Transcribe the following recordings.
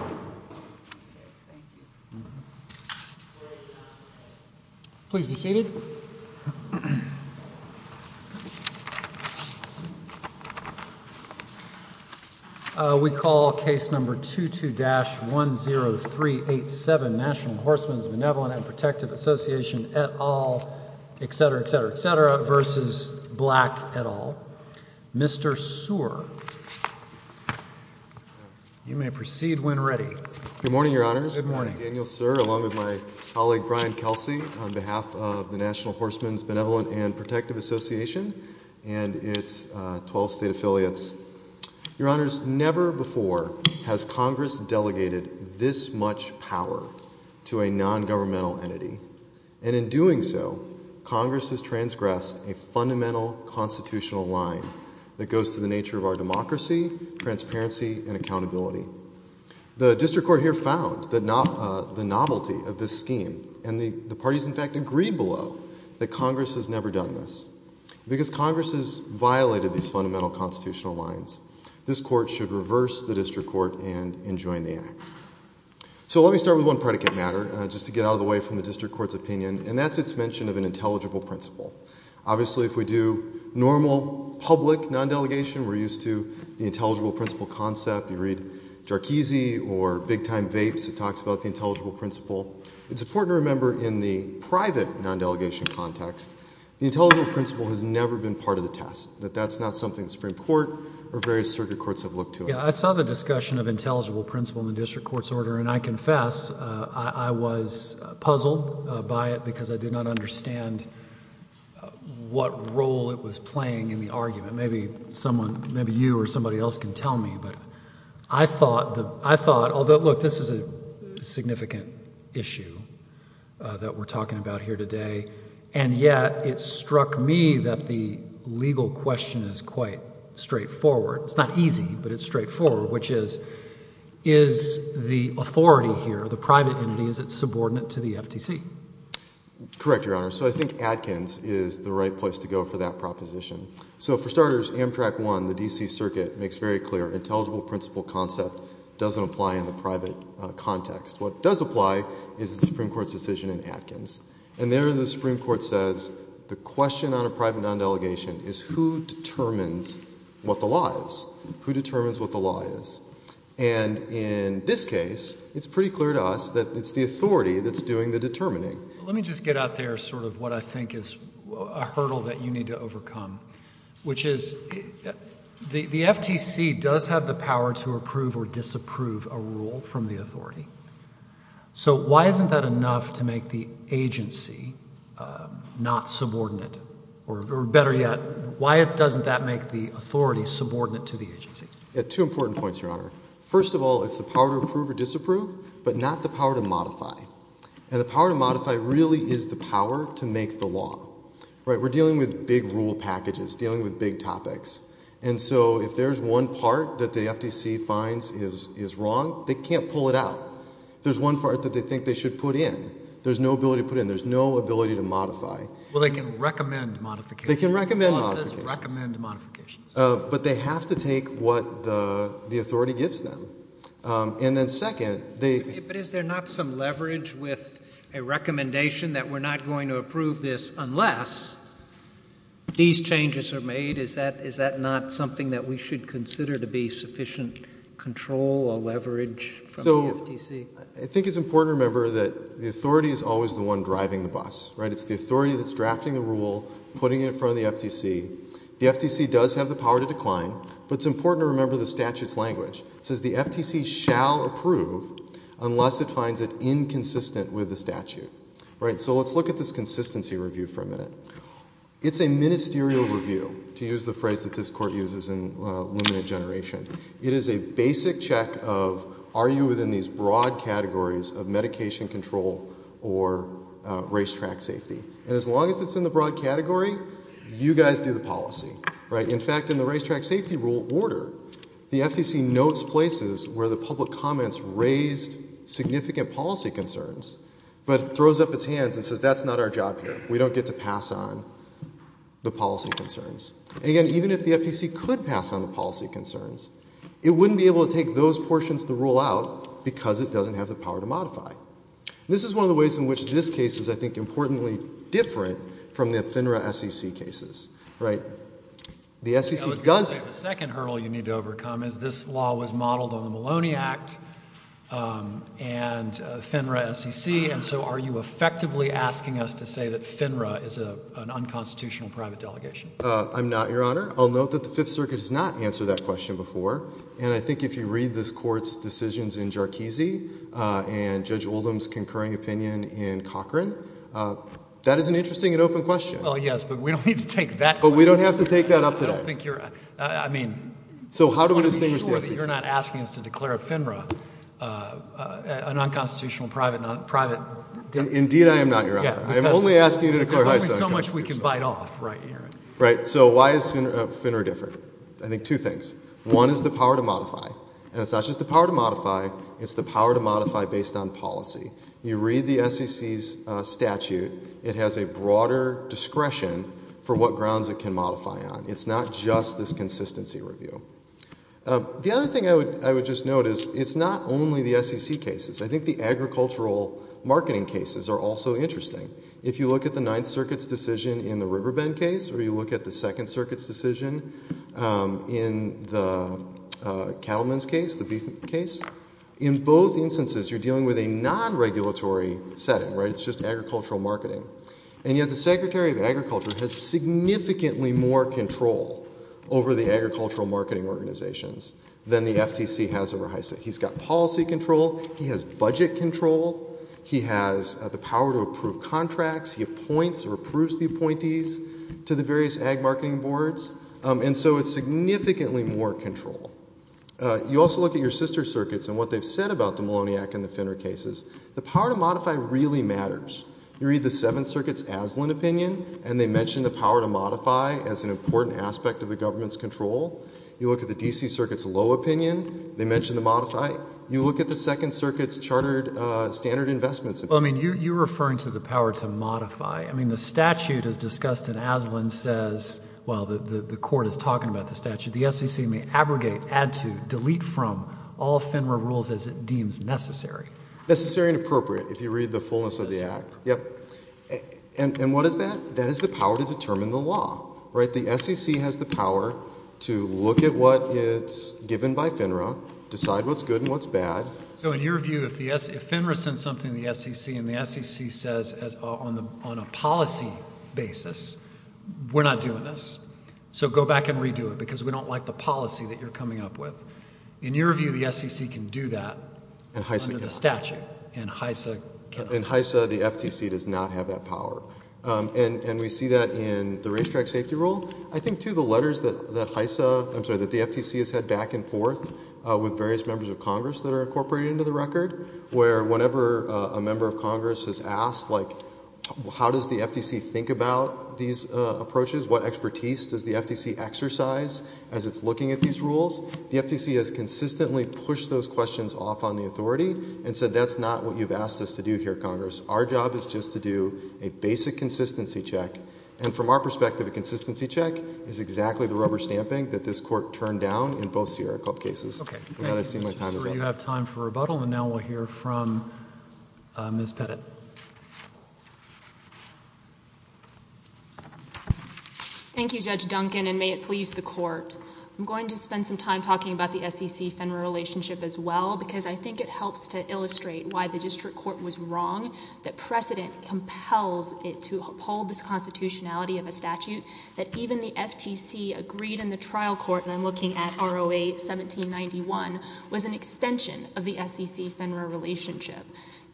and Protective Association, et al. v. Black, et al. Mr. Sear, you may proceed when ready. Good morning, Your Honors. Daniel Sear, along with my colleague Brian Kelsey, on behalf of the National Horsemen's Benevolent and Protective Association and its 12 state affiliates. Your Honors, never before has Congress delegated this much power to a nongovernmental entity. And in doing so, Congress has transgressed a fundamental constitutional line that goes to the nature of our democracy, transparency, and accountability. The District Court here found the novelty of this scheme, and the parties in fact agreed below that Congress has never done this. Because Congress has violated these fundamental constitutional lines, this Court should reverse the District Court and enjoin the Act. So let me start with one predicate matter, just to get out of the way from the District Court's opinion, and that's its mention of an intelligible principle. Obviously, if we do normal public non-delegation, we're used to the intelligible principle concept. You read Jarkizi or Big Time Vapes, it talks about the intelligible principle. It's important to remember in the private non-delegation context, the intelligible principle has never been part of the test. That that's not something the Supreme Court or various circuit courts have looked to. Yeah, I saw the discussion of intelligible principle in the District Court's order, and I confess I was puzzled by it because I did not understand what role it was playing in the argument. Maybe someone, maybe you or somebody else can tell me, but I thought, although look, this is a significant issue that we're talking about here today. And yet, it struck me that the legal question is quite straightforward. It's not easy, but it's straightforward, which is, is the authority here, the private entity, is it subordinate to the FTC? Correct, Your Honor. So I think Atkins is the right place to go for that proposition. So for starters, Amtrak 1, the D.C. Circuit, makes very clear intelligible principle concept doesn't apply in the private context. What does apply is the Supreme Court's decision in Atkins. And there the Supreme Court says the question on a private non-delegation is who determines what the law is, who determines what the law is. And in this case, it's pretty clear to us that it's the authority that's doing the determining. Let me just get out there sort of what I think is a hurdle that you need to overcome, which is the FTC does have the power to approve or disapprove a rule from the authority. So why isn't that enough to make the agency not subordinate, or better yet, why doesn't that make the authority subordinate to the agency? Two important points, Your Honor. First of all, it's the power to approve or disapprove, but not the power to modify. And the power to modify really is the power to make the law. We're dealing with big rule packages, dealing with big topics. And so if there's one part that the FTC finds is wrong, they can't pull it out. There's one part that they think they should put in. There's no ability to put in. There's no ability to modify. Well, they can recommend modifications. They can recommend modifications. The law says recommend modifications. But they have to take what the authority gives them. But is there not some leverage with a recommendation that we're not going to approve this unless these changes are made? Is that not something that we should consider to be sufficient control or leverage from the FTC? I think it's important to remember that the authority is always the one driving the bus. It's the authority that's drafting the rule, putting it in front of the FTC. The FTC does have the power to decline. But it's important to remember the statute's language. It says the FTC shall approve unless it finds it inconsistent with the statute. So let's look at this consistency review for a minute. It's a ministerial review, to use the phrase that this court uses in limited generation. It is a basic check of are you within these broad categories of medication control or racetrack safety. And as long as it's in the broad category, you guys do the policy. In fact, in the racetrack safety rule order, the FTC notes places where the public comments raised significant policy concerns, but throws up its hands and says that's not our job here. We don't get to pass on the policy concerns. Again, even if the FTC could pass on the policy concerns, it wouldn't be able to take those portions of the rule out because it doesn't have the power to modify. This is one of the ways in which this case is, I think, importantly different from the FINRA SEC cases. Right. The SEC does- I was going to say the second hurdle you need to overcome is this law was modeled on the Maloney Act and FINRA SEC, and so are you effectively asking us to say that FINRA is an unconstitutional private delegation? I'm not, Your Honor. I'll note that the Fifth Circuit has not answered that question before, and I think if you read this court's decisions in Jarchese and Judge Oldham's concurring opinion in Cochran, that is an interesting and open question. Well, yes, but we don't need to take that question. But we don't have to take that up today. I don't think you're- I mean- So how do we distinguish the SEC? I want to be sure that you're not asking us to declare FINRA a nonconstitutional private delegation. Indeed I am not, Your Honor. I am only asking you to declare FISA a private delegation. There's only so much we can bite off right here. Right. So why is FINRA different? I think two things. One is the power to modify, and it's not just the power to modify. It's the power to modify based on policy. You read the SEC's statute, it has a broader discretion for what grounds it can modify on. It's not just this consistency review. The other thing I would just note is it's not only the SEC cases. I think the agricultural marketing cases are also interesting. If you look at the Ninth Circuit's decision in the Riverbend case, or you look at the Second Circuit's decision in the Cattleman's case, the Beefman case, in both instances you're dealing with a nonregulatory setting, right? It's just agricultural marketing. And yet the Secretary of Agriculture has significantly more control over the agricultural marketing organizations than the FTC has over FISA. He's got policy control. He has budget control. He has the power to approve contracts. He appoints or approves the appointees to the various ag marketing boards. And so it's significantly more control. You also look at your sister circuits and what they've said about the Moloniak and the Finner cases. The power to modify really matters. You read the Seventh Circuit's Aslan opinion, and they mention the power to modify as an important aspect of the government's control. You look at the D.C. Circuit's Lowe opinion, they mention the modify. You look at the Second Circuit's Chartered Standard Investments opinion. Well, I mean, you're referring to the power to modify. I mean, the statute as discussed in Aslan says, well, the court is talking about the statute. The SEC may abrogate, add to, delete from all FINRA rules as it deems necessary. Necessary and appropriate, if you read the fullness of the act. And what is that? That is the power to determine the law. The SEC has the power to look at what is given by FINRA, decide what's good and what's bad. So in your view, if FINRA sends something to the SEC and the SEC says on a policy basis, we're not doing this. So go back and redo it because we don't like the policy that you're coming up with. In your view, the SEC can do that under the statute, and HISA cannot. In HISA, the FTC does not have that power. And we see that in the racetrack safety rule. I think, too, the letters that the FTC has had back and forth with various members of Congress that are incorporated into the record, where whenever a member of Congress has asked, like, how does the FTC think about these approaches? What expertise does the FTC exercise as it's looking at these rules? The FTC has consistently pushed those questions off on the authority and said that's not what you've asked us to do here, Congress. Our job is just to do a basic consistency check. And from our perspective, a consistency check is exactly the rubber stamping that this Court turned down in both Sierra Club cases. I'm sure you have time for rebuttal, and now we'll hear from Ms. Pettit. Thank you, Judge Duncan, and may it please the Court. I'm going to spend some time talking about the SEC-Fender relationship as well because I think it helps to illustrate why the district court was wrong, that precedent compels it to uphold this constitutionality of a statute that even the FTC agreed in the trial court, and I'm looking at ROA 1791, was an extension of the SEC-Fender relationship.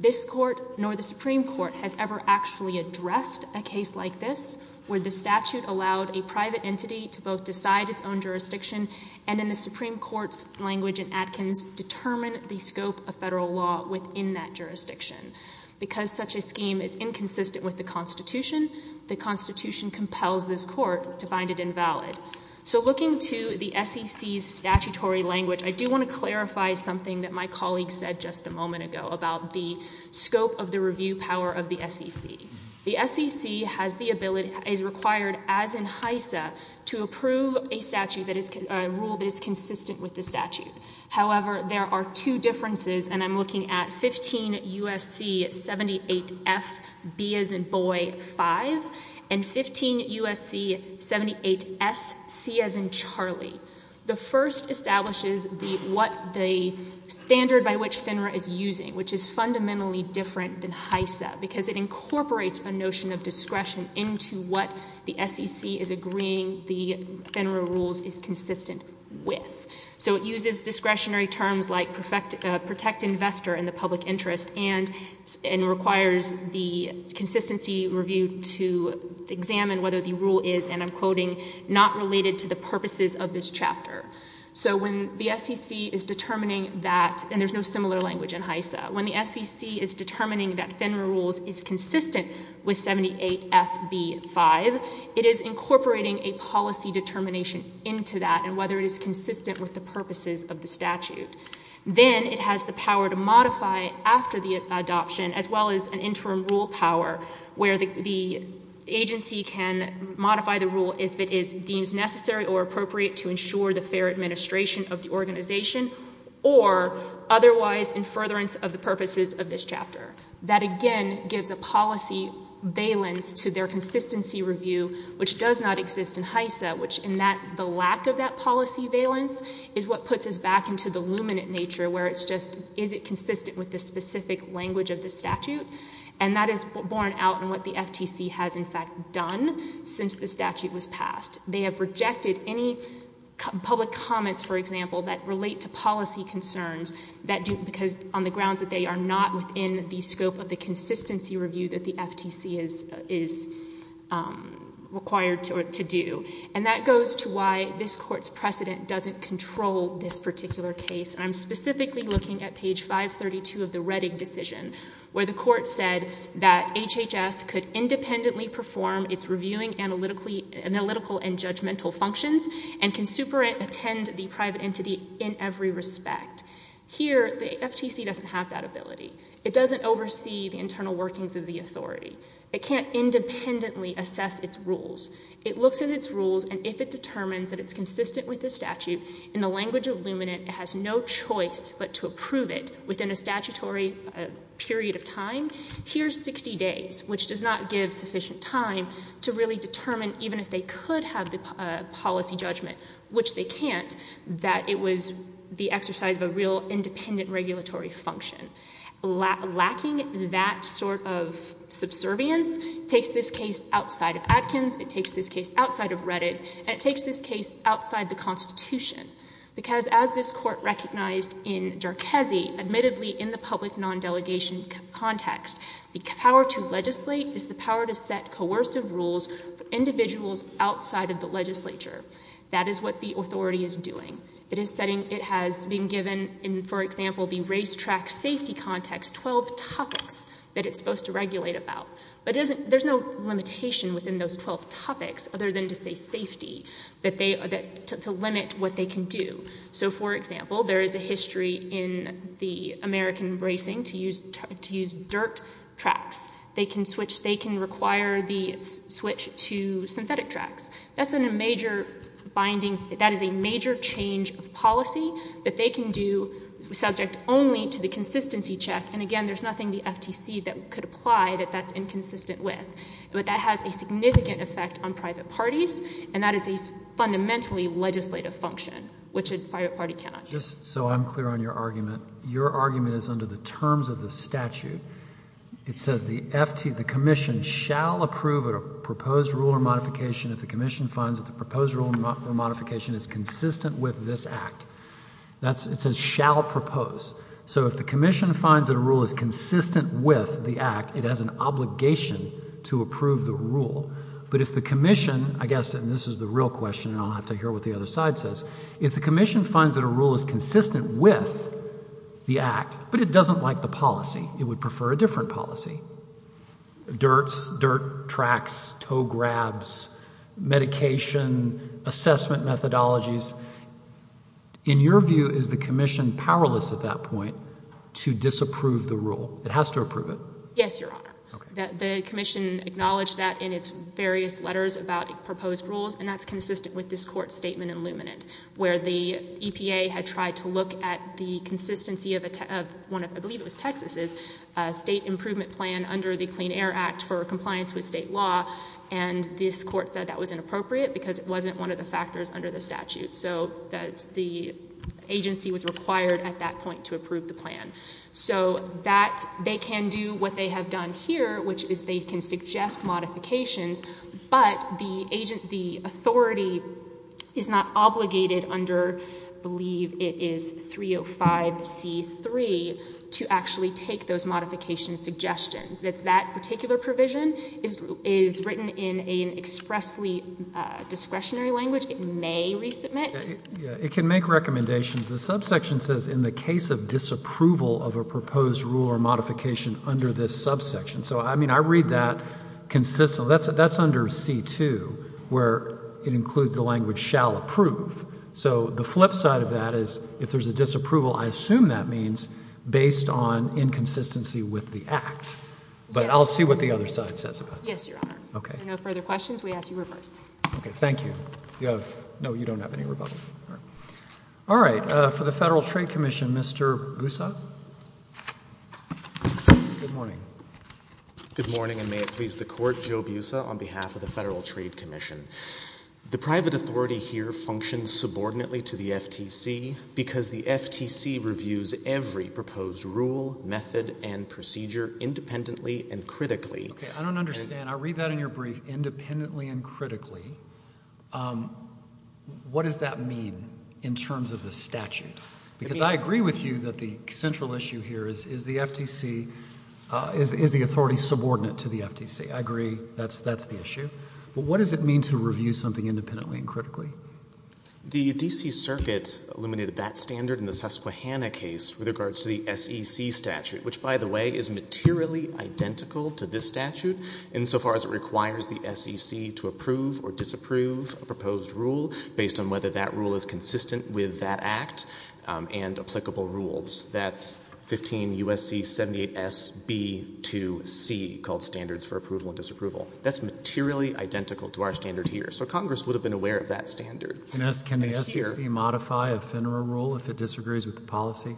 This Court, nor the Supreme Court, has ever actually addressed a case like this, where the statute allowed a private entity to both decide its own jurisdiction and in the Supreme Court's language in Atkins, determine the scope of federal law within that jurisdiction. Because such a scheme is inconsistent with the constitution, the constitution compels this Court to find it invalid. So looking to the SEC's statutory language, I do want to clarify something that my colleague said just a moment ago about the scope of the review power of the SEC. The SEC has the ability, is required, as in HISA, to approve a rule that is consistent with the statute. However, there are two differences, and I'm looking at 15 U.S.C. 78F, B as in boy, 5, and 15 U.S.C. 78S, C as in Charlie. The first establishes the standard by which FINRA is using, which is fundamentally different than HISA, because it incorporates a notion of discretion into what the SEC is agreeing the FINRA rules is consistent with. So it uses discretionary terms like protect investor and the public interest and requires the consistency review to examine whether the rule is, and I'm quoting, not related to the purposes of this chapter. So when the SEC is determining that, and there's no similar language in HISA, when the SEC is determining that FINRA rules is consistent with 78F, B, 5, it is incorporating a policy determination into that and whether it is consistent with the purposes of the statute. Then it has the power to modify after the adoption as well as an interim rule power where the agency can modify the rule as it is deemed necessary or appropriate to ensure the fair administration of the organization or otherwise in furtherance of the purposes of this chapter. That, again, gives a policy valence to their consistency review, which does not exist in HISA, which in that the lack of that policy valence is what puts us back into the luminant nature where it's just is it consistent with the specific language of the statute. And that is borne out in what the FTC has in fact done since the statute was passed. They have rejected any public comments, for example, that relate to policy concerns because on the grounds that they are not within the scope of the consistency review that the FTC is required to do. And that goes to why this Court's precedent doesn't control this particular case. I'm specifically looking at page 532 of the Reddick decision where the Court said that HHS could independently perform its reviewing, analytical, and judgmental functions and can superintend the private entity in every respect. Here, the FTC doesn't have that ability. It doesn't oversee the internal workings of the authority. It can't independently assess its rules. It looks at its rules, and if it determines that it's consistent with the statute, in the language of luminant, it has no choice but to approve it within a statutory period of time. Here's 60 days, which does not give sufficient time to really determine even if they could have the policy judgment, which they can't, that it was the exercise of a real independent regulatory function. Lacking that sort of subservience takes this case outside of Adkins. It takes this case outside of Reddick. And it takes this case outside the Constitution because as this Court recognized in Jarchese, admittedly in the public non-delegation context, the power to legislate is the power to set coercive rules for individuals outside of the legislature. That is what the authority is doing. It has been given, for example, in the racetrack safety context, 12 topics that it's supposed to regulate about. But there's no limitation within those 12 topics other than to say safety, to limit what they can do. So, for example, there is a history in the American racing to use dirt tracks. They can switch, they can require the switch to synthetic tracks. That's a major binding, that is a major change of policy that they can do subject only to the consistency check. And, again, there's nothing the FTC could apply that that's inconsistent with. But that has a significant effect on private parties, and that is a fundamentally legislative function, which a private party cannot do. Just so I'm clear on your argument, your argument is under the terms of the statute. It says the FTC, the commission shall approve a proposed rule or modification if the commission finds that the proposed rule or modification is consistent with this act. It says shall propose. So if the commission finds that a rule is consistent with the act, it has an obligation to approve the rule. But if the commission, I guess, and this is the real question, and I'll have to hear what the other side says, if the commission finds that a rule is consistent with the act but it doesn't like the policy, it would prefer a different policy, dirts, dirt tracks, tow grabs, medication, assessment methodologies, in your view, is the commission powerless at that point to disapprove the rule? It has to approve it. Yes, Your Honor. Okay. The commission acknowledged that in its various letters about proposed rules, and that's consistent with this Court's statement in Luminant, where the EPA had tried to look at the consistency of one of, I believe it was Texas's, state improvement plan under the Clean Air Act for compliance with state law, and this Court said that was inappropriate because it wasn't one of the factors under the statute. So the agency was required at that point to approve the plan. So that they can do what they have done here, which is they can suggest modifications, but the authority is not obligated under, I believe it is 305C3, to actually take those modification suggestions. That particular provision is written in an expressly discretionary language. It may resubmit. It can make recommendations. The subsection says in the case of disapproval of a proposed rule or modification under this subsection. So, I mean, I read that consistently. That's under C2, where it includes the language shall approve. So the flip side of that is if there's a disapproval, I assume that means based on inconsistency with the act. But I'll see what the other side says about that. Yes, Your Honor. Okay. If there are no further questions, we ask you reverse. Okay. Thank you. No, you don't have any rebuttal. All right. For the Federal Trade Commission, Mr. Busa. Good morning. Good morning, and may it please the Court. Joe Busa on behalf of the Federal Trade Commission. The private authority here functions subordinately to the FTC because the FTC reviews every proposed rule, method, and procedure independently and critically. Okay. I don't understand. I'll read that in your brief, independently and critically. What does that mean in terms of the statute? Because I agree with you that the central issue here is the FTC, is the authority subordinate to the FTC. I agree that's the issue. But what does it mean to review something independently and critically? The D.C. Circuit eliminated that standard in the Susquehanna case with regards to the SEC statute, which, by the way, is materially identical to this statute insofar as it requires the SEC to approve or disapprove a proposed rule based on whether that rule is consistent with that act and applicable rules. That's 15 U.S.C. 78S.B.2.C., called Standards for Approval and Disapproval. That's materially identical to our standard here. So Congress would have been aware of that standard. Can the SEC modify a FINRA rule if it disagrees with the policy?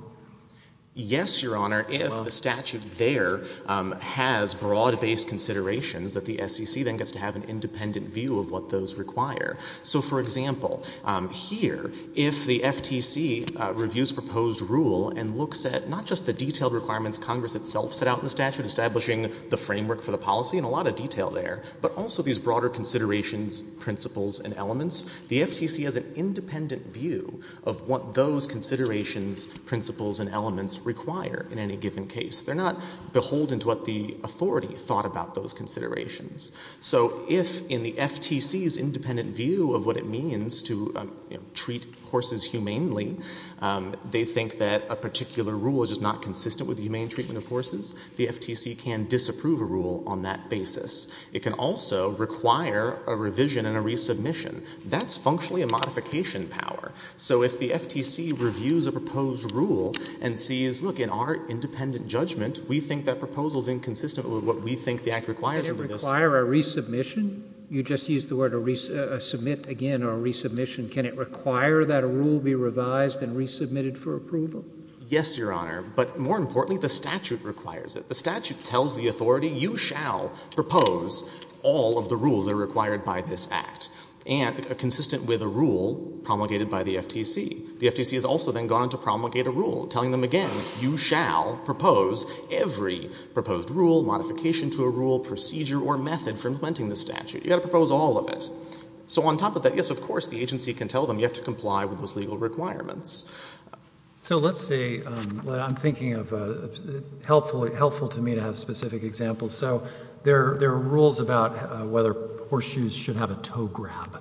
Yes, Your Honor, if the statute there has broad-based considerations, that the SEC then gets to have an independent view of what those require. So, for example, here, if the FTC reviews proposed rule and looks at not just the detailed requirements Congress itself set out in the statute, establishing the framework for the policy, and a lot of detail there, but also these broader considerations, principles, and elements, the FTC has an independent view of what those considerations, principles, and elements require in any given case. They're not beholden to what the authority thought about those considerations. So if, in the FTC's independent view of what it means to treat horses humanely, they think that a particular rule is just not consistent with the humane treatment of horses, the FTC can disapprove a rule on that basis. It can also require a revision and a resubmission. That's functionally a modification power. So if the FTC reviews a proposed rule and sees, look, in our independent judgment, we think that proposal is inconsistent with what we think the Act requires. Can it require a resubmission? You just used the word submit again or resubmission. Can it require that a rule be revised and resubmitted for approval? Yes, Your Honor. But more importantly, the statute requires it. The statute tells the authority, you shall propose all of the rules that are required by this Act, and consistent with a rule promulgated by the FTC. The FTC has also then gone on to promulgate a rule, telling them again, you shall propose every proposed rule, modification to a rule, procedure or method for implementing the statute. You've got to propose all of it. So on top of that, yes, of course, the agency can tell them you have to comply with those legal requirements. So let's say I'm thinking of helpful to me to have specific examples. So there are rules about whether horseshoes should have a toe grab.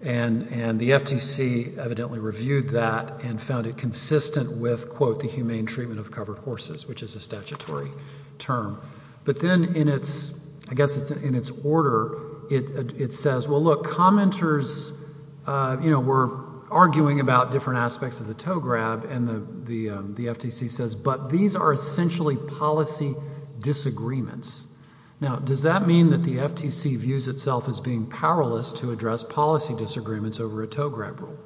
And the FTC evidently reviewed that and found it consistent with, quote, the humane treatment of covered horses, which is a statutory term. But then in its order, it says, well, look, commenters, you know, were arguing about different aspects of the toe grab, and the FTC says, but these are essentially policy disagreements. Now, does that mean that the FTC views itself as being powerless to address policy disagreements over a toe grab rule?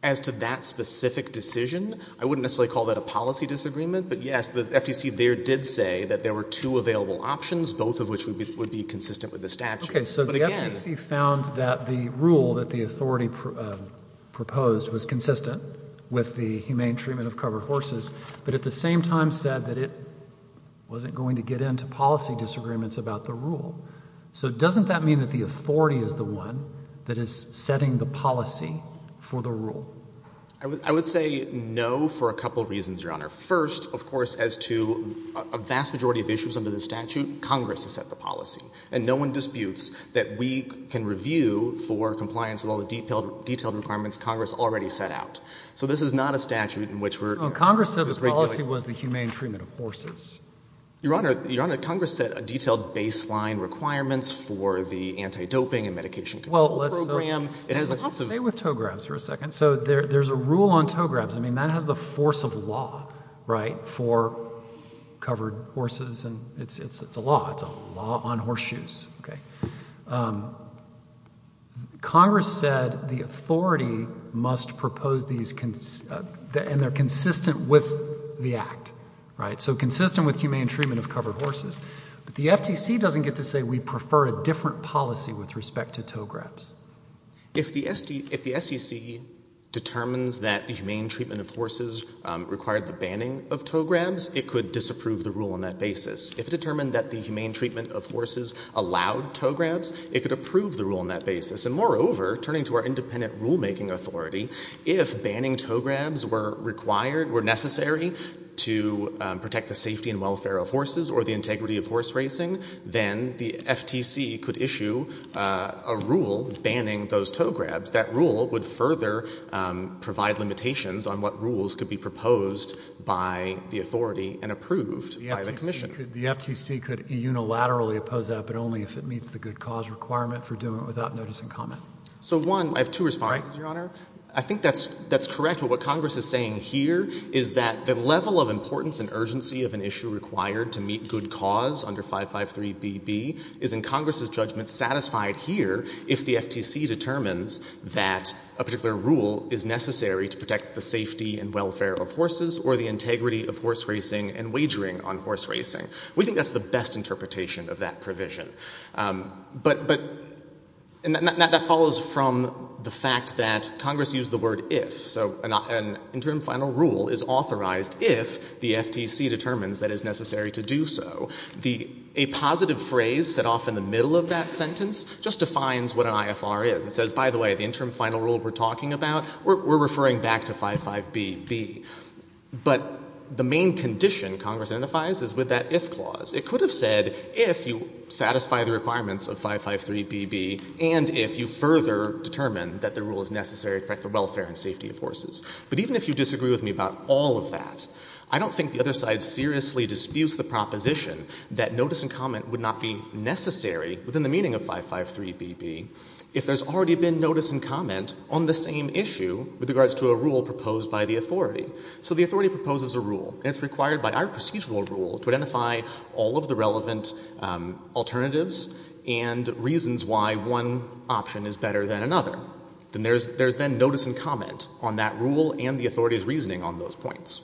As to that specific decision, I wouldn't necessarily call that a policy disagreement. But, yes, the FTC there did say that there were two available options, both of which would be consistent with the statute. Okay, so the FTC found that the rule that the authority proposed was consistent with the humane treatment of covered horses, but at the same time said that it wasn't going to get into policy disagreements about the rule. So doesn't that mean that the authority is the one that is setting the policy for the rule? I would say no for a couple of reasons, Your Honor. First, of course, as to a vast majority of issues under the statute, Congress has set the policy. And no one disputes that we can review for compliance with all the detailed requirements Congress already set out. So this is not a statute in which we're... Congress said the policy was the humane treatment of horses. Your Honor, Congress set a detailed baseline requirements for the anti-doping and medication control program. Well, let's stay with toe grabs for a second. So there's a rule on toe grabs. I mean, that has the force of law, right, for covered horses, and it's a law. It's a law on horseshoes. Congress said the authority must propose these... and they're consistent with the Act, right, so consistent with humane treatment of covered horses. But the FTC doesn't get to say we prefer a different policy with respect to toe grabs. If the SEC determines that the humane treatment of horses required the banning of toe grabs, it could disapprove the rule on that basis. If it determined that the humane treatment of horses allowed toe grabs, it could approve the rule on that basis. And moreover, turning to our independent rulemaking authority, if banning toe grabs were required, were necessary to protect the safety and welfare of horses or the integrity of horse racing, then the FTC could issue a rule banning those toe grabs. That rule would further provide limitations on what rules could be proposed by the authority and approved by the Commission. The FTC could unilaterally oppose that, but only if it meets the good cause requirement for doing it without notice and comment. So, one, I have two responses, Your Honor. I think that's correct, but what Congress is saying here is that the level of importance and urgency of an issue required to meet good cause under 553BB is, in Congress's judgment, satisfied here if the FTC determines that a particular rule is necessary to protect the safety and welfare of horses or the integrity of horse racing and wagering on horse racing. We think that's the best interpretation of that provision. But... And that follows from the fact that Congress used the word if, so an interim final rule is authorized if the FTC determines that it is necessary to do so. A positive phrase set off in the middle of that sentence just defines what an IFR is. It says, by the way, the interim final rule we're talking about, we're referring back to 55BB. But the main condition Congress identifies is with that IF clause. It could have said, if you satisfy the requirements of 553BB and if you further determine that the rule is necessary to protect the welfare and safety of horses. But even if you disagree with me about all of that, I don't think the other side seriously disputes the proposition that notice and comment would not be necessary within the meaning of 553BB if there's already been notice and comment on the same issue with regards to a rule proposed by the authority. So the authority proposes a rule, and it's required by our procedural rule to identify all of the relevant alternatives and reasons why one option is better than another. There's then notice and comment on that rule and the authority's reasoning on those points.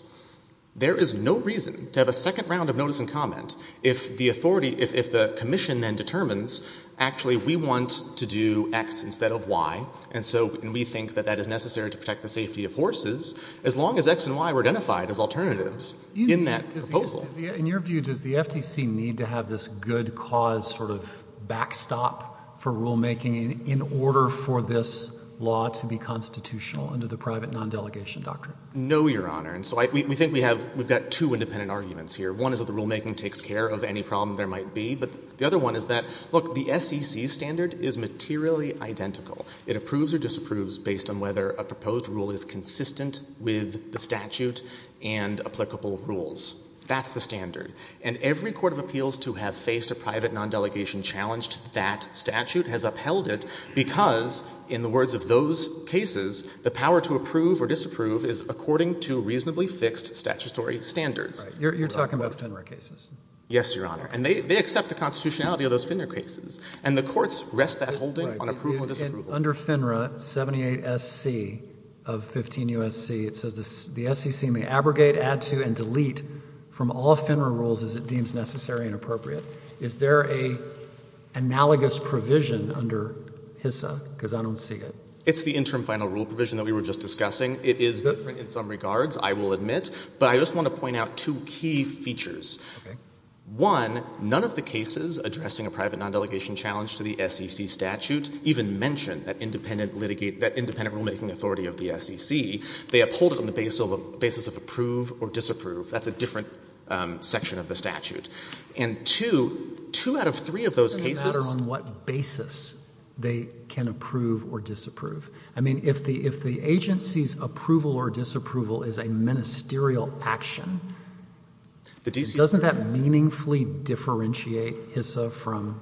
There is no reason to have a second round of notice and comment if the commission then determines, actually, we want to do X instead of Y, and so we think that that is necessary to protect the safety of horses, as long as X and Y were identified as alternatives in that proposal. In your view, does the FTC need to have this good cause sort of backstop for rulemaking in order for this law to be constitutional under the private non-delegation doctrine? No, Your Honor. And so we think we've got two independent arguments here. One is that the rulemaking takes care of any problem there might be. But the other one is that, look, the SEC standard is materially identical. It approves or disapproves based on whether a proposed rule is consistent with the statute and applicable rules. That's the standard. And every court of appeals to have faced a private non-delegation challenge to that statute has upheld it because, in the words of those cases, the power to approve or disapprove is according to reasonably fixed statutory standards. You're talking about Fenner cases. Yes, Your Honor. And they accept the constitutionality of those Fenner cases. And the courts rest that holding on approval or disapproval. Under Fenner, 78SC of 15 U.S.C., it says the SEC may abrogate, add to, and delete from all Fenner rules as it deems necessary and appropriate. Is there an analogous provision under HISA? Because I don't see it. It's the interim final rule provision that we were just discussing. It is different in some regards, I will admit. But I just want to point out two key features. Okay. One, none of the cases addressing a private non-delegation challenge to the SEC statute even mention that independent rulemaking authority of the SEC. They uphold it on the basis of approve or disapprove. That's a different section of the statute. And two, two out of three of those cases... It doesn't matter on what basis they can approve or disapprove. I mean, if the agency's approval or disapproval is a ministerial action... Doesn't that meaningfully differentiate HISA from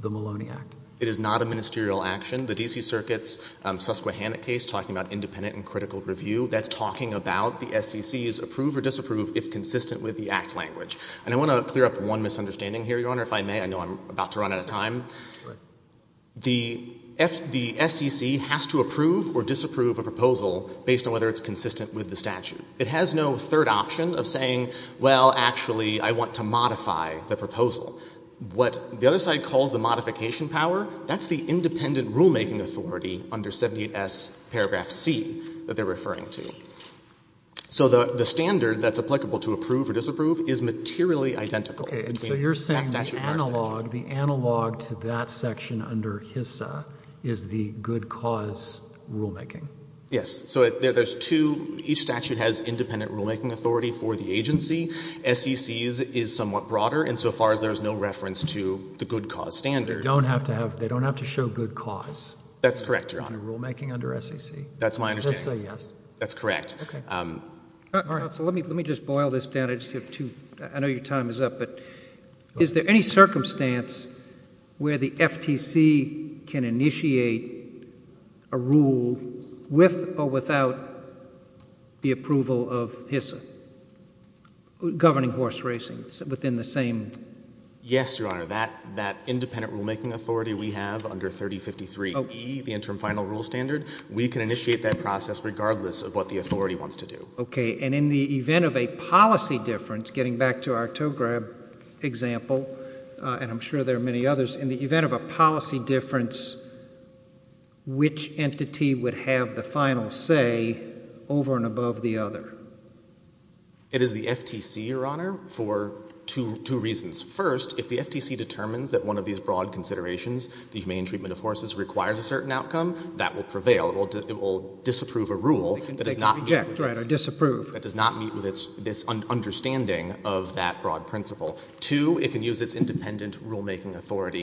the Maloney Act? It is not a ministerial action. The D.C. Circuit's Susquehanna case, talking about independent and critical review, that's talking about the SEC's approve or disapprove if consistent with the Act language. And I want to clear up one misunderstanding here, Your Honor, if I may. I know I'm about to run out of time. The SEC has to approve or disapprove a proposal based on whether it's consistent with the statute. It has no third option of saying, well, actually, I want to modify the proposal. What the other side calls the modification power, that's the independent rulemaking authority under 78S paragraph C that they're referring to. So the standard that's applicable to approve or disapprove is materially identical. Okay, and so you're saying the analog, the analog to that section under HISA is the good cause rulemaking. Yes. So there's two. Each statute has independent rulemaking authority for the agency. SEC's is somewhat broader insofar as there's no reference to the good cause standard. They don't have to have, they don't have to show good cause. That's correct, Your Honor. Under rulemaking under SEC. That's my understanding. Just say yes. That's correct. Okay. Counsel, let me just boil this down. I just have two, I know your time is up, but is there any circumstance where the FTC can initiate a rule with or without the approval of HISA, governing horse racing, within the same... Yes, Your Honor, that independent rulemaking authority we have under 3053E, the interim final rule standard, we can initiate that process regardless of what the authority wants to do. Okay, and in the event of a policy difference, getting back to our tow-grab example, and I'm sure there are many others, in the event of a policy difference, which entity would have the final say over and above the other? It is the FTC, Your Honor, for two reasons. First, if the FTC determines that one of these broad considerations, the humane treatment of horses, requires a certain outcome, that will prevail. It will disapprove a rule that does not... They can reject, right, or disapprove. That does not meet with this understanding of that broad principle. Two, it can use its independent rulemaking authority...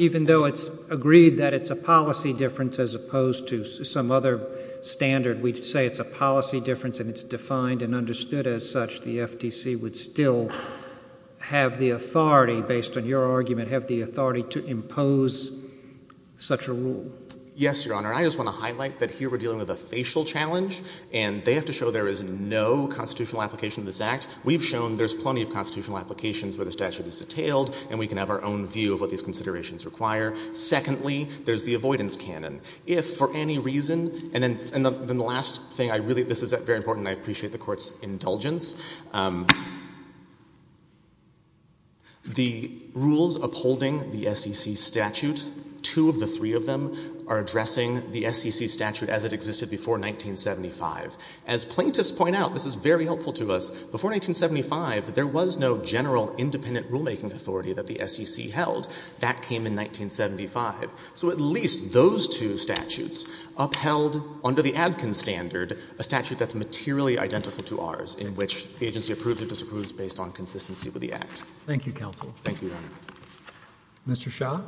Policy difference as opposed to some other standard. We say it's a policy difference, and it's defined and understood as such. The FTC would still have the authority, based on your argument, have the authority to impose such a rule. Yes, Your Honor, I just want to highlight that here we're dealing with a facial challenge, and they have to show there is no constitutional application of this Act. We've shown there's plenty of constitutional applications where the statute is detailed, and we can have our own view of what these considerations require. Secondly, there's the avoidance canon. If for any reason... And then the last thing, I really... This is very important, and I appreciate the Court's indulgence. The rules upholding the SEC statute, two of the three of them, are addressing the SEC statute as it existed before 1975. As plaintiffs point out, this is very helpful to us, before 1975, there was no general independent rulemaking authority that the SEC held. That came in 1975. So at least those two statutes upheld, under the Adkins standard, a statute that's materially identical to ours, in which the agency approves or disapproves based on consistency with the Act. Thank you, counsel. Thank you, Your Honor. Mr. Shah?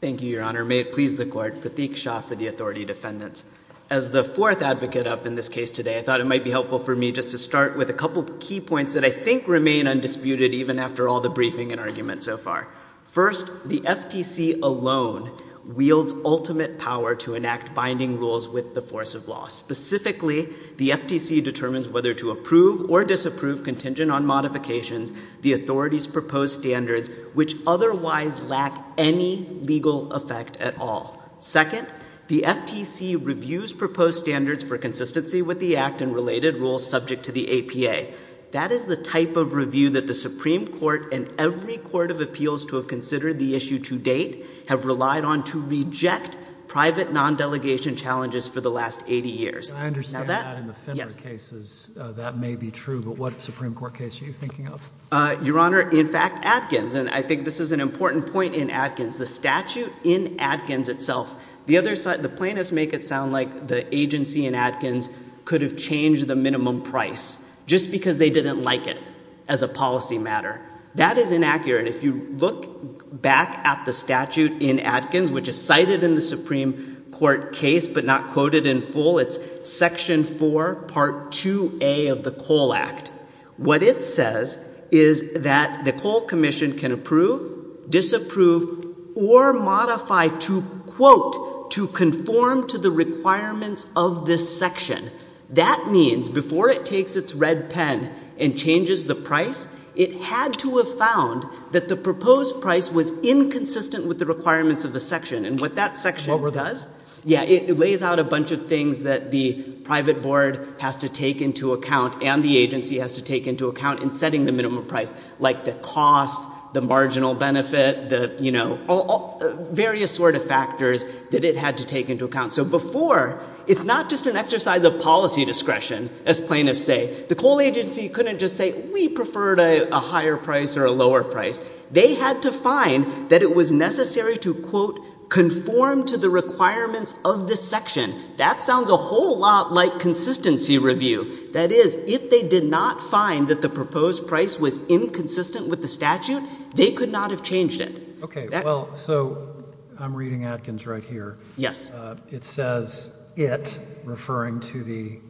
Thank you, Your Honor. May it please the Court, Prateek Shah for the authority defendants. As the fourth advocate up in this case today, I thought it might be helpful for me just to start with a couple of key points that I think remain undisputed even after all the briefing and argument so far. First, the FTC alone wields ultimate power to enact binding rules with the force of law. Specifically, the FTC determines whether to approve or disapprove contingent on modifications the authorities' proposed standards, which otherwise lack any legal effect at all. Second, the FTC reviews proposed standards for consistency with the Act and related rules subject to the APA. That is the type of review that the Supreme Court and every court of appeals to have considered the issue to date have relied on to reject private non-delegation challenges for the last 80 years. I understand that in the Finner cases. That may be true, but what Supreme Court case are you thinking of? Your Honor, in fact, Adkins. And I think this is an important point in Adkins. The statute in Adkins itself, the plaintiffs make it sound like the agency in Adkins could have changed the minimum price just because they didn't like it as a policy matter. That is inaccurate. If you look back at the statute in Adkins, which is cited in the Supreme Court case but not quoted in full, it's Section 4, Part 2A of the COLE Act. What it says is that the COLE Commission can approve, disapprove, or modify to, quote, to conform to the requirements of this section. That means before it takes its red pen and changes the price, it had to have found that the proposed price was inconsistent with the requirements of the section. And what that section does... Yeah, it lays out a bunch of things that the private board has to take into account and the agency has to take into account in setting the minimum price, like the cost, the marginal benefit, the, you know, various sort of factors that it had to take into account. So before, it's not just an exercise of policy discretion, as plaintiffs say. The COLE agency couldn't just say, we prefer a higher price or a lower price. They had to find that it was necessary to, quote, conform to the requirements of this section. That sounds a whole lot like consistency review. That is, if they did not find that the proposed price was inconsistent with the statute, they could not have changed it. Okay, well, so I'm reading Adkins right here. Yes. It says, it, referring to the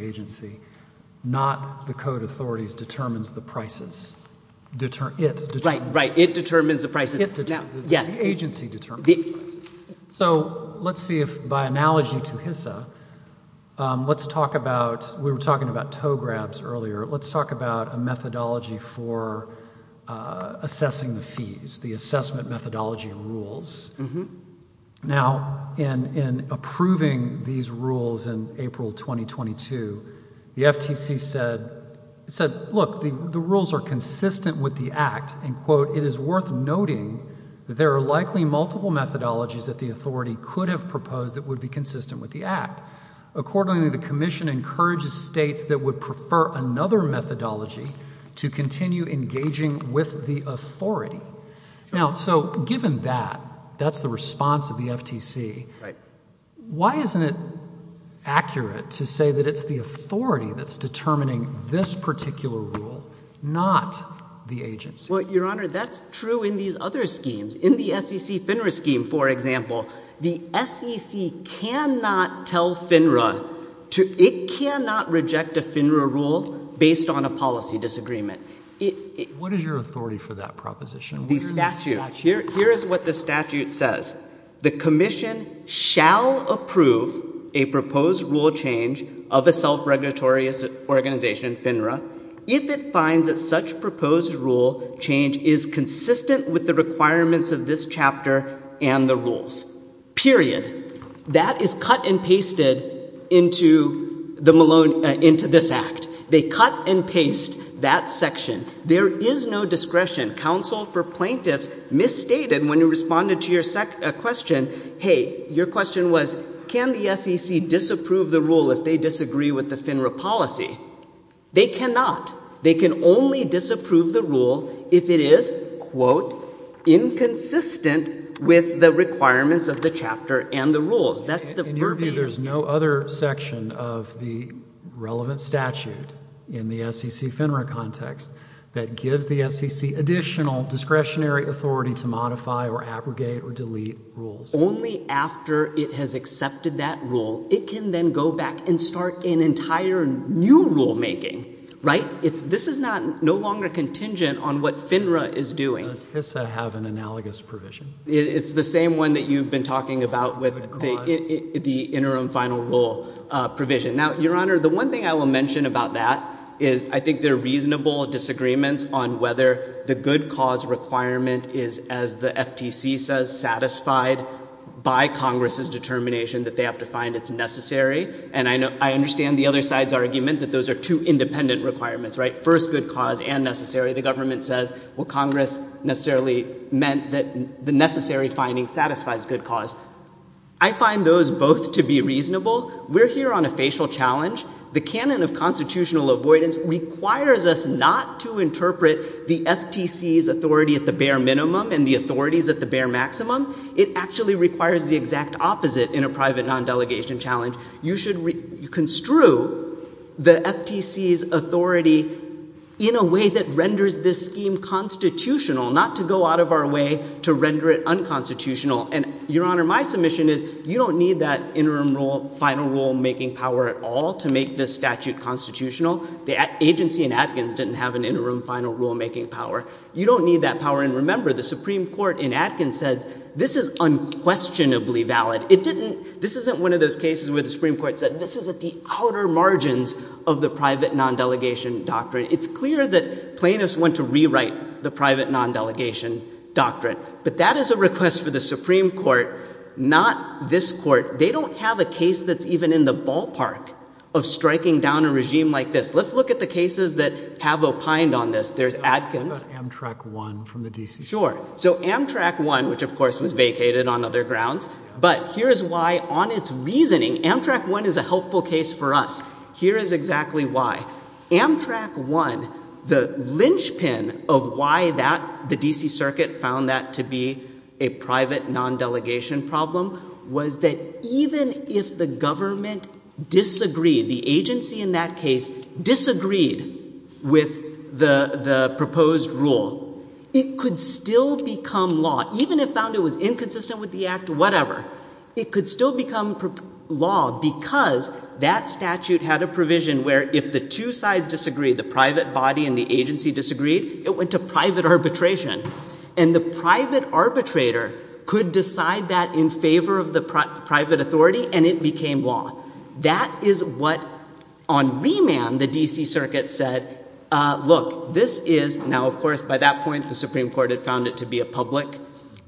agency, not the code authorities determines the prices. It determines. Right, it determines the prices. The agency determines the prices. So let's see if, by analogy to HISA, let's talk about... We were talking about tow grabs earlier. Let's talk about a methodology for assessing the fees, the assessment methodology rules. Mm-hmm. Now, in approving these rules in April 2022, the FTC said, look, the rules are consistent with the Act, and, quote, it is worth noting that there are likely multiple methodologies that the authority could have proposed that would be consistent with the Act. Accordingly, the commission encourages states that would prefer another methodology to continue engaging with the authority. Now, so given that, that's the response of the FTC, why isn't it accurate to say that it's the authority that's determining this particular rule, not the agency? Well, Your Honor, that's true in these other schemes. In the SEC FINRA scheme, for example, the SEC cannot tell FINRA to... based on a policy disagreement. What is your authority for that proposition? The statute. Here is what the statute says. The commission shall approve a proposed rule change of a self-regulatory organization, FINRA, if it finds that such proposed rule change is consistent with the requirements of this chapter and the rules, period. That is cut and pasted into this Act. They cut and paste that section. There is no discretion. Counsel for plaintiffs misstated when you responded to your question, hey, your question was, can the SEC disapprove the rule if they disagree with the FINRA policy? They cannot. They can only disapprove the rule if it is, quote, inconsistent with the requirements of the chapter and the rules. In your view, there's no other section of the relevant statute in the SEC FINRA context that gives the SEC additional discretionary authority to modify or abrogate or delete rules? Only after it has accepted that rule. It can then go back and start an entire new rulemaking, right? This is no longer contingent on what FINRA is doing. Does HISA have an analogous provision? It's the same one that you've been talking about with the interim final rule provision. Now, Your Honor, the one thing I will mention about that is I think there are reasonable disagreements on whether the good cause requirement is, as the FTC says, satisfied by Congress's determination that they have to find it's necessary. And I understand the other side's argument that those are two independent requirements, right? First, good cause and necessary. The government says, well, Congress necessarily meant that the necessary finding satisfies good cause. I find those both to be reasonable. We're here on a facial challenge. The canon of constitutional avoidance requires us not to interpret the FTC's authority at the bare minimum and the authorities at the bare maximum. It actually requires the exact opposite in a private non-delegation challenge. You should construe the FTC's authority in a way that renders this scheme constitutional, not to go out of our way to render it unconstitutional. And, Your Honor, my submission is you don't need that interim final rule making power at all to make this statute constitutional. The agency in Adkins didn't have an interim final rule making power. You don't need that power. And remember, the Supreme Court in Adkins said this is unquestionably valid. This isn't one of those cases where the Supreme Court said, this is at the outer margins of the private non-delegation doctrine. It's clear that plaintiffs want to rewrite the private non-delegation doctrine. But that is a request for the Supreme Court, not this court. They don't have a case that's even in the ballpark of striking down a regime like this. Let's look at the cases that have opined on this. There's Adkins. Amtrak 1 from the DCC. Sure. So Amtrak 1, which, of course, was vacated on other grounds. But here is why, on its reasoning, Amtrak 1 is a helpful case for us. Here is exactly why. Amtrak 1, the linchpin of why the DC Circuit found that to be a private non-delegation problem was that even if the government disagreed, the agency in that case disagreed with the proposed rule, it could still become law. Even if found it was inconsistent with the act, whatever, it could still become law because that statute had a provision where if the two sides disagreed, the private body and the agency disagreed, it went to private arbitration. And the private arbitrator could decide that in favor of the private authority, and it became law. That is what, on remand, the DC Circuit said, look, this is now, of course, by that point, the Supreme Court had found it to be a public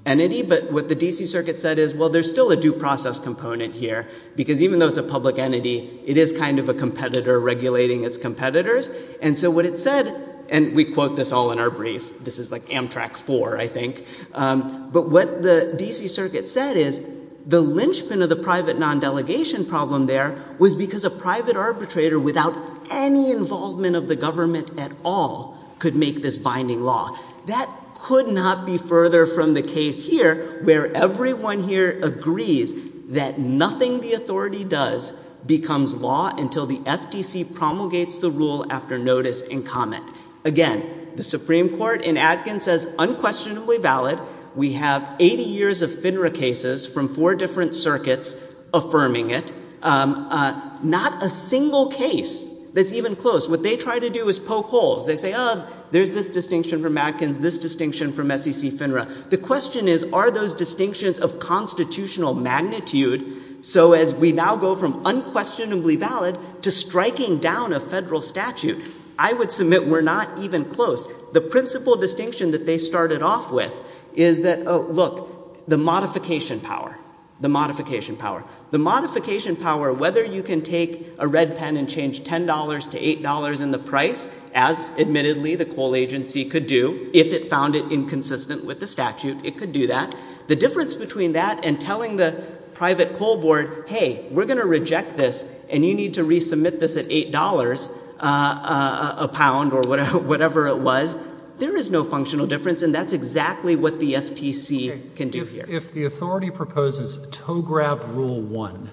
entity. But what the DC Circuit said is, well, there's still a due process component here because even though it's a public entity, it is kind of a competitor regulating its competitors. And so what it said, and we quote this all in our brief. This is like Amtrak 4, I think. But what the DC Circuit said is, the lynchpin of the private non-delegation problem there was because a private arbitrator without any involvement of the government at all could make this binding law. That could not be further from the case here where everyone here agrees that nothing the authority does becomes law until the FTC promulgates the rule after notice and comment. Again, the Supreme Court in Adkins says unquestionably valid. We have 80 years of FINRA cases from four different circuits affirming it. Not a single case that's even close. What they try to do is poke holes. They say, oh, there's this distinction from Adkins, this distinction from SEC FINRA. The question is, are those distinctions of constitutional magnitude? So as we now go from unquestionably valid to striking down a federal statute, I would submit we're not even close. The principal distinction that they started off with is that, oh, look, the modification power, the modification power. The modification power, whether you can take a red pen and change $10 to $8 in the price, as admittedly the coal agency could do, if it found it inconsistent with the statute, it could do that. The difference between that and telling the private coal board, hey, we're going to reject this, and you need to resubmit this at $8 a pound or whatever it was, there is no functional difference. And that's exactly what the FTC can do here. If the authority proposes tow-grab rule one,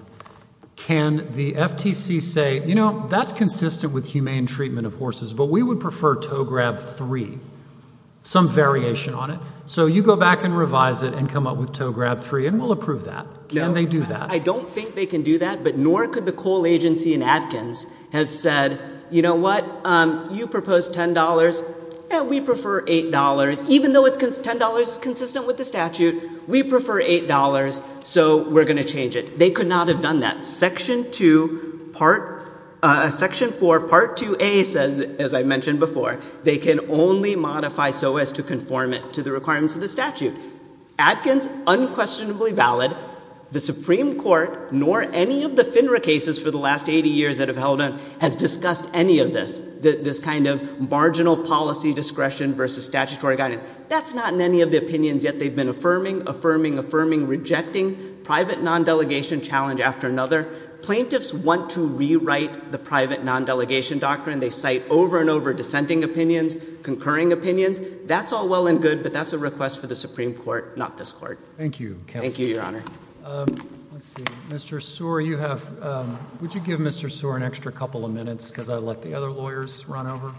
can the FTC say, you know, that's consistent with humane treatment of horses, but we would prefer tow-grab three, some variation on it. So you go back and revise it and come up with tow-grab three, and we'll approve that. Can they do that? I don't think they can do that, but nor could the coal agency in Atkins have said, you know what, you proposed $10, and we prefer $8. Even though $10 is consistent with the statute, we prefer $8, so we're going to change it. They could not have done that. Section two, part, section four, part 2A says, as I mentioned before, they can only modify so as to conform it to the requirements of the statute. Atkins, unquestionably valid. The Supreme Court, nor any of the FINRA cases for the last 80 years that have held on, has discussed any of this, this kind of marginal policy discretion versus statutory guidance. That's not in any of the opinions yet. They've been affirming, affirming, affirming, rejecting private non-delegation challenge after another. Plaintiffs want to rewrite the private non-delegation doctrine. They cite over and over dissenting opinions, concurring opinions. That's all well and good, but that's a request for the Supreme Court, not this Court. Thank you, counsel. Thank you, Your Honor. Let's see. Mr. Soar, you have, would you give Mr. Soar an extra couple of minutes, because I'd like the other lawyers to run over.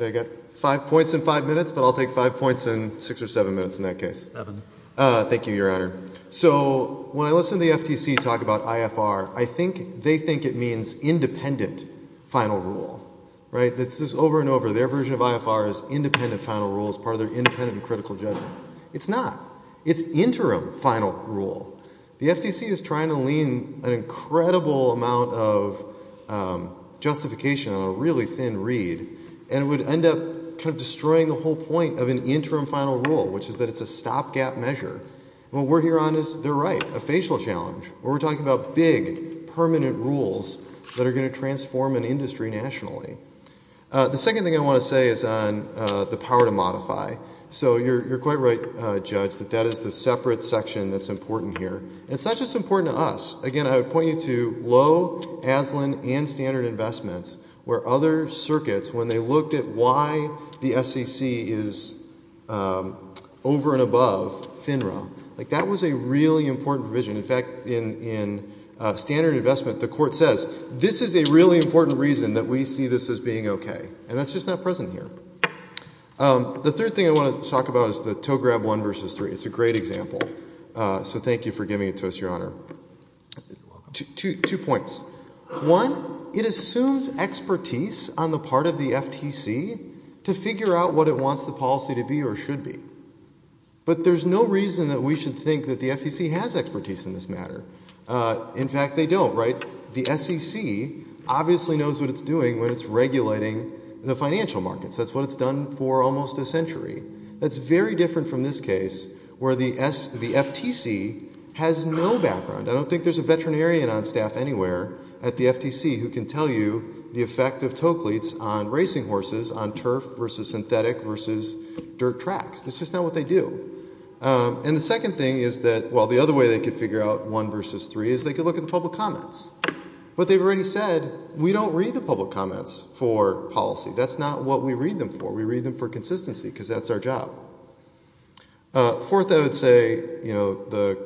I've got five points in five minutes, but I'll take five points in six or seven minutes in that case. Seven. Thank you, Your Honor. So when I listen to the FTC talk about IFR, I think they think it means independent final rule. Right? This is over and over. Their version of IFR is independent final rule as part of their independent and critical judgment. It's not. It's interim final rule. The FTC is trying to lean an incredible amount of justification on a really thin read, and it would end up kind of destroying the whole point of an interim final rule, which is that it's a stopgap measure. What we're here on is, they're right, a facial challenge. We're talking about big, permanent rules that are going to transform an industry nationally. The second thing I want to say is on the power to modify. So you're quite right, Judge, that that is the separate section that's important here. It's not just important to us. Again, I would point you to Lowe, Aslan, and Standard Investments, where other circuits, when they looked at why the SEC is over and above FINRA, like that was a really important provision. In fact, in Standard Investment, the court says, this is a really important reason that we see this as being OK. And that's just not present here. The third thing I want to talk about is the tow-grab one versus three. It's a great example. So thank you for giving it to us, Your Honor. Two points. One, it assumes expertise on the part of the FTC to figure out what it wants the policy to be or should be. But there's no reason that we should think that the FTC has expertise in this matter. In fact, they don't, right? The SEC obviously knows what it's doing when it's regulating the financial markets. That's what it's done for almost a century. That's very different from this case, where the FTC has no background. I don't think there's a veterinarian on staff anywhere at the FTC who can tell you the effect of tow cleats on racing horses, on turf versus synthetic versus dirt tracks. That's just not what they do. And the second thing is that, well, the other way they could figure out one versus three is they could look at the public comments. But they've already said, we don't read the public comments for policy. That's not what we read them for. We read them for consistency, because that's our job. Fourth, I would say, you know,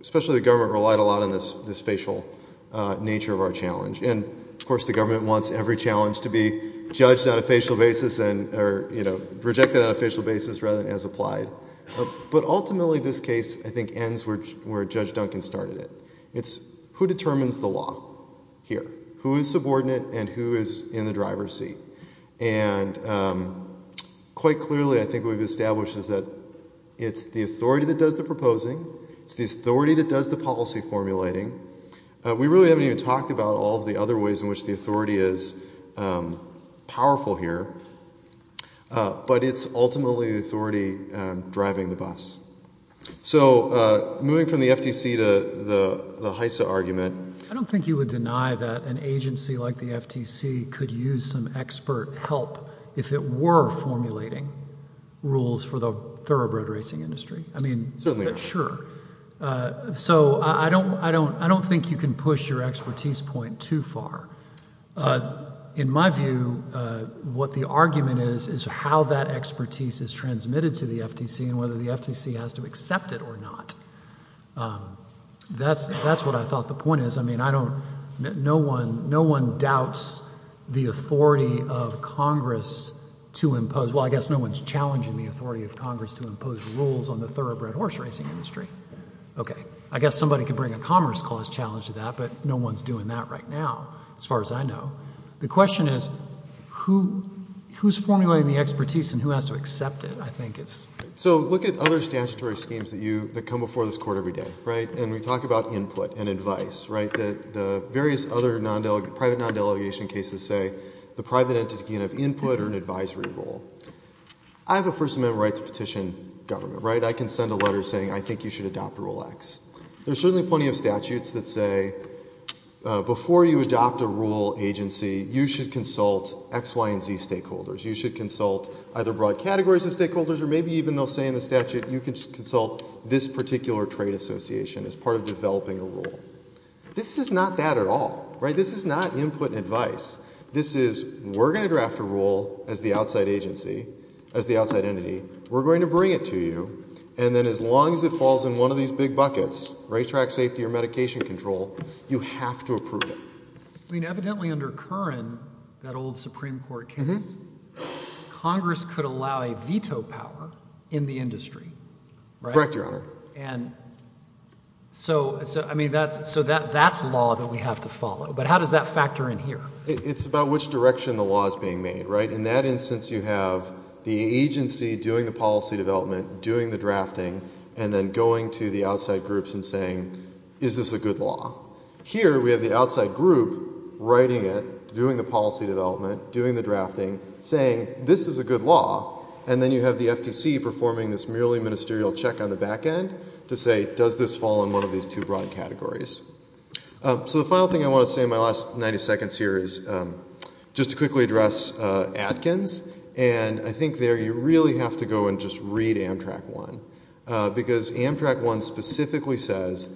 especially the government relied a lot on this facial nature of our challenge. And, of course, the government wants every challenge to be judged on a facial basis, or, you know, rejected on a facial basis rather than as applied. But ultimately this case, I think, ends where Judge Duncan started it. It's who determines the law here? Who is subordinate and who is in the driver's seat? And quite clearly I think what we've established is that it's the authority that does the proposing. It's the authority that does the policy formulating. We really haven't even talked about all of the other ways in which the authority is powerful here. But it's ultimately the authority driving the bus. So moving from the FTC to the HISA argument... I don't think you would deny that an agency like the FTC could use some expert help if it were formulating rules for the thoroughbred racing industry. I mean... Certainly not. Sure. So I don't think you can push your expertise point too far. In my view, what the argument is is how that expertise is transmitted to the FTC and whether the FTC has to accept it or not. That's what I thought the point is. I mean, I don't... No one doubts the authority of Congress to impose... Well, I guess no one's challenging the authority of Congress to impose rules on the thoroughbred horse racing industry. Okay. I guess somebody can bring a Commerce Clause challenge to that, but no one's doing that right now, as far as I know. The question is, who's formulating the expertise and who has to accept it? I think it's... So look at other statutory schemes that you... that come before this Court every day, right? And we talk about input and advice, right? The various other private non-delegation cases say the private entity can have input or an advisory role. I have a First Amendment right to petition government, right? I can send a letter saying, I think you should adopt Rule X. There are certainly plenty of statutes that say, before you adopt a rule agency, you should consult X, Y, and Z stakeholders. You should consult either broad categories of stakeholders or maybe even they'll say in the statute, you can consult this particular trade association as part of developing a rule. This is not that at all, right? This is not input and advice. This is, we're going to draft a rule as the outside agency, as the outside entity, we're going to bring it to you, and then as long as it falls in one of these big buckets, racetrack safety or medication control, you have to approve it. I mean, evidently under Curran, that old Supreme Court case, Congress could allow a veto power in the industry, right? Correct, Your Honor. And so, I mean, that's law that we have to follow. But how does that factor in here? It's about which direction the law is being made, right? In that instance, you have the agency doing the policy development, doing the drafting, and then going to the outside groups and saying, is this a good law? Here, we have the outside group writing it, doing the policy development, doing the drafting, saying, this is a good law, and then you have the FTC performing this merely ministerial check on the back end to say, does this fall in one of these two broad categories? So the final thing I want to say in my last 90 seconds here is just to quickly address Adkins, and I think there you really have to go and just read Amtrak 1, because Amtrak 1 specifically says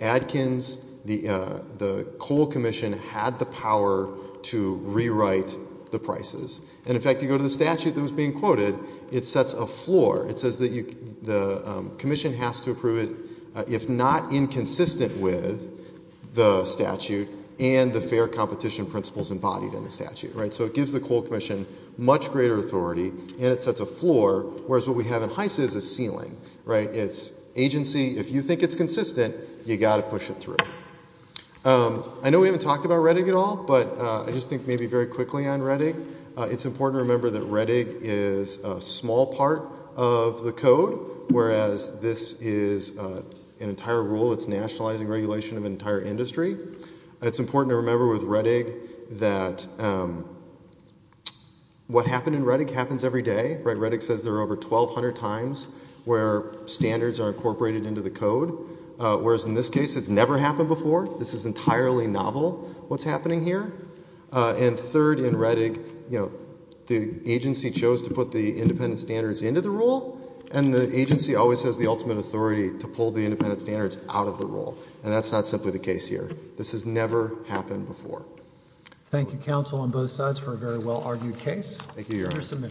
Adkins, the coal commission, had the power to rewrite the prices. And in fact, you go to the statute that was being quoted, it sets a floor. It says that the commission has to approve it if not inconsistent with the statute and the fair competition principles embodied in the statute. So it gives the coal commission much greater authority, and it sets a floor, whereas what we have in Heise is a ceiling. It's agency, if you think it's consistent, you've got to push it through. I know we haven't talked about Rettig at all, but I just think maybe very quickly on Rettig, it's important to remember that Rettig is a small part of the code, whereas this is an entire rule that's nationalizing regulation of an entire industry. It's important to remember with Rettig that what happened in Rettig happens every day. Rettig says there are over 1,200 times where standards are incorporated into the code, whereas in this case it's never happened before. This is entirely novel, what's happening here. And third, in Rettig, the agency chose to put the independent standards into the rule, and the agency always has the ultimate authority to pull the independent standards out of the rule, and that's not simply the case here. This has never happened before. Thank you, counsel, on both sides for a very well-argued case. Thank you, Your Honor. It's under submission.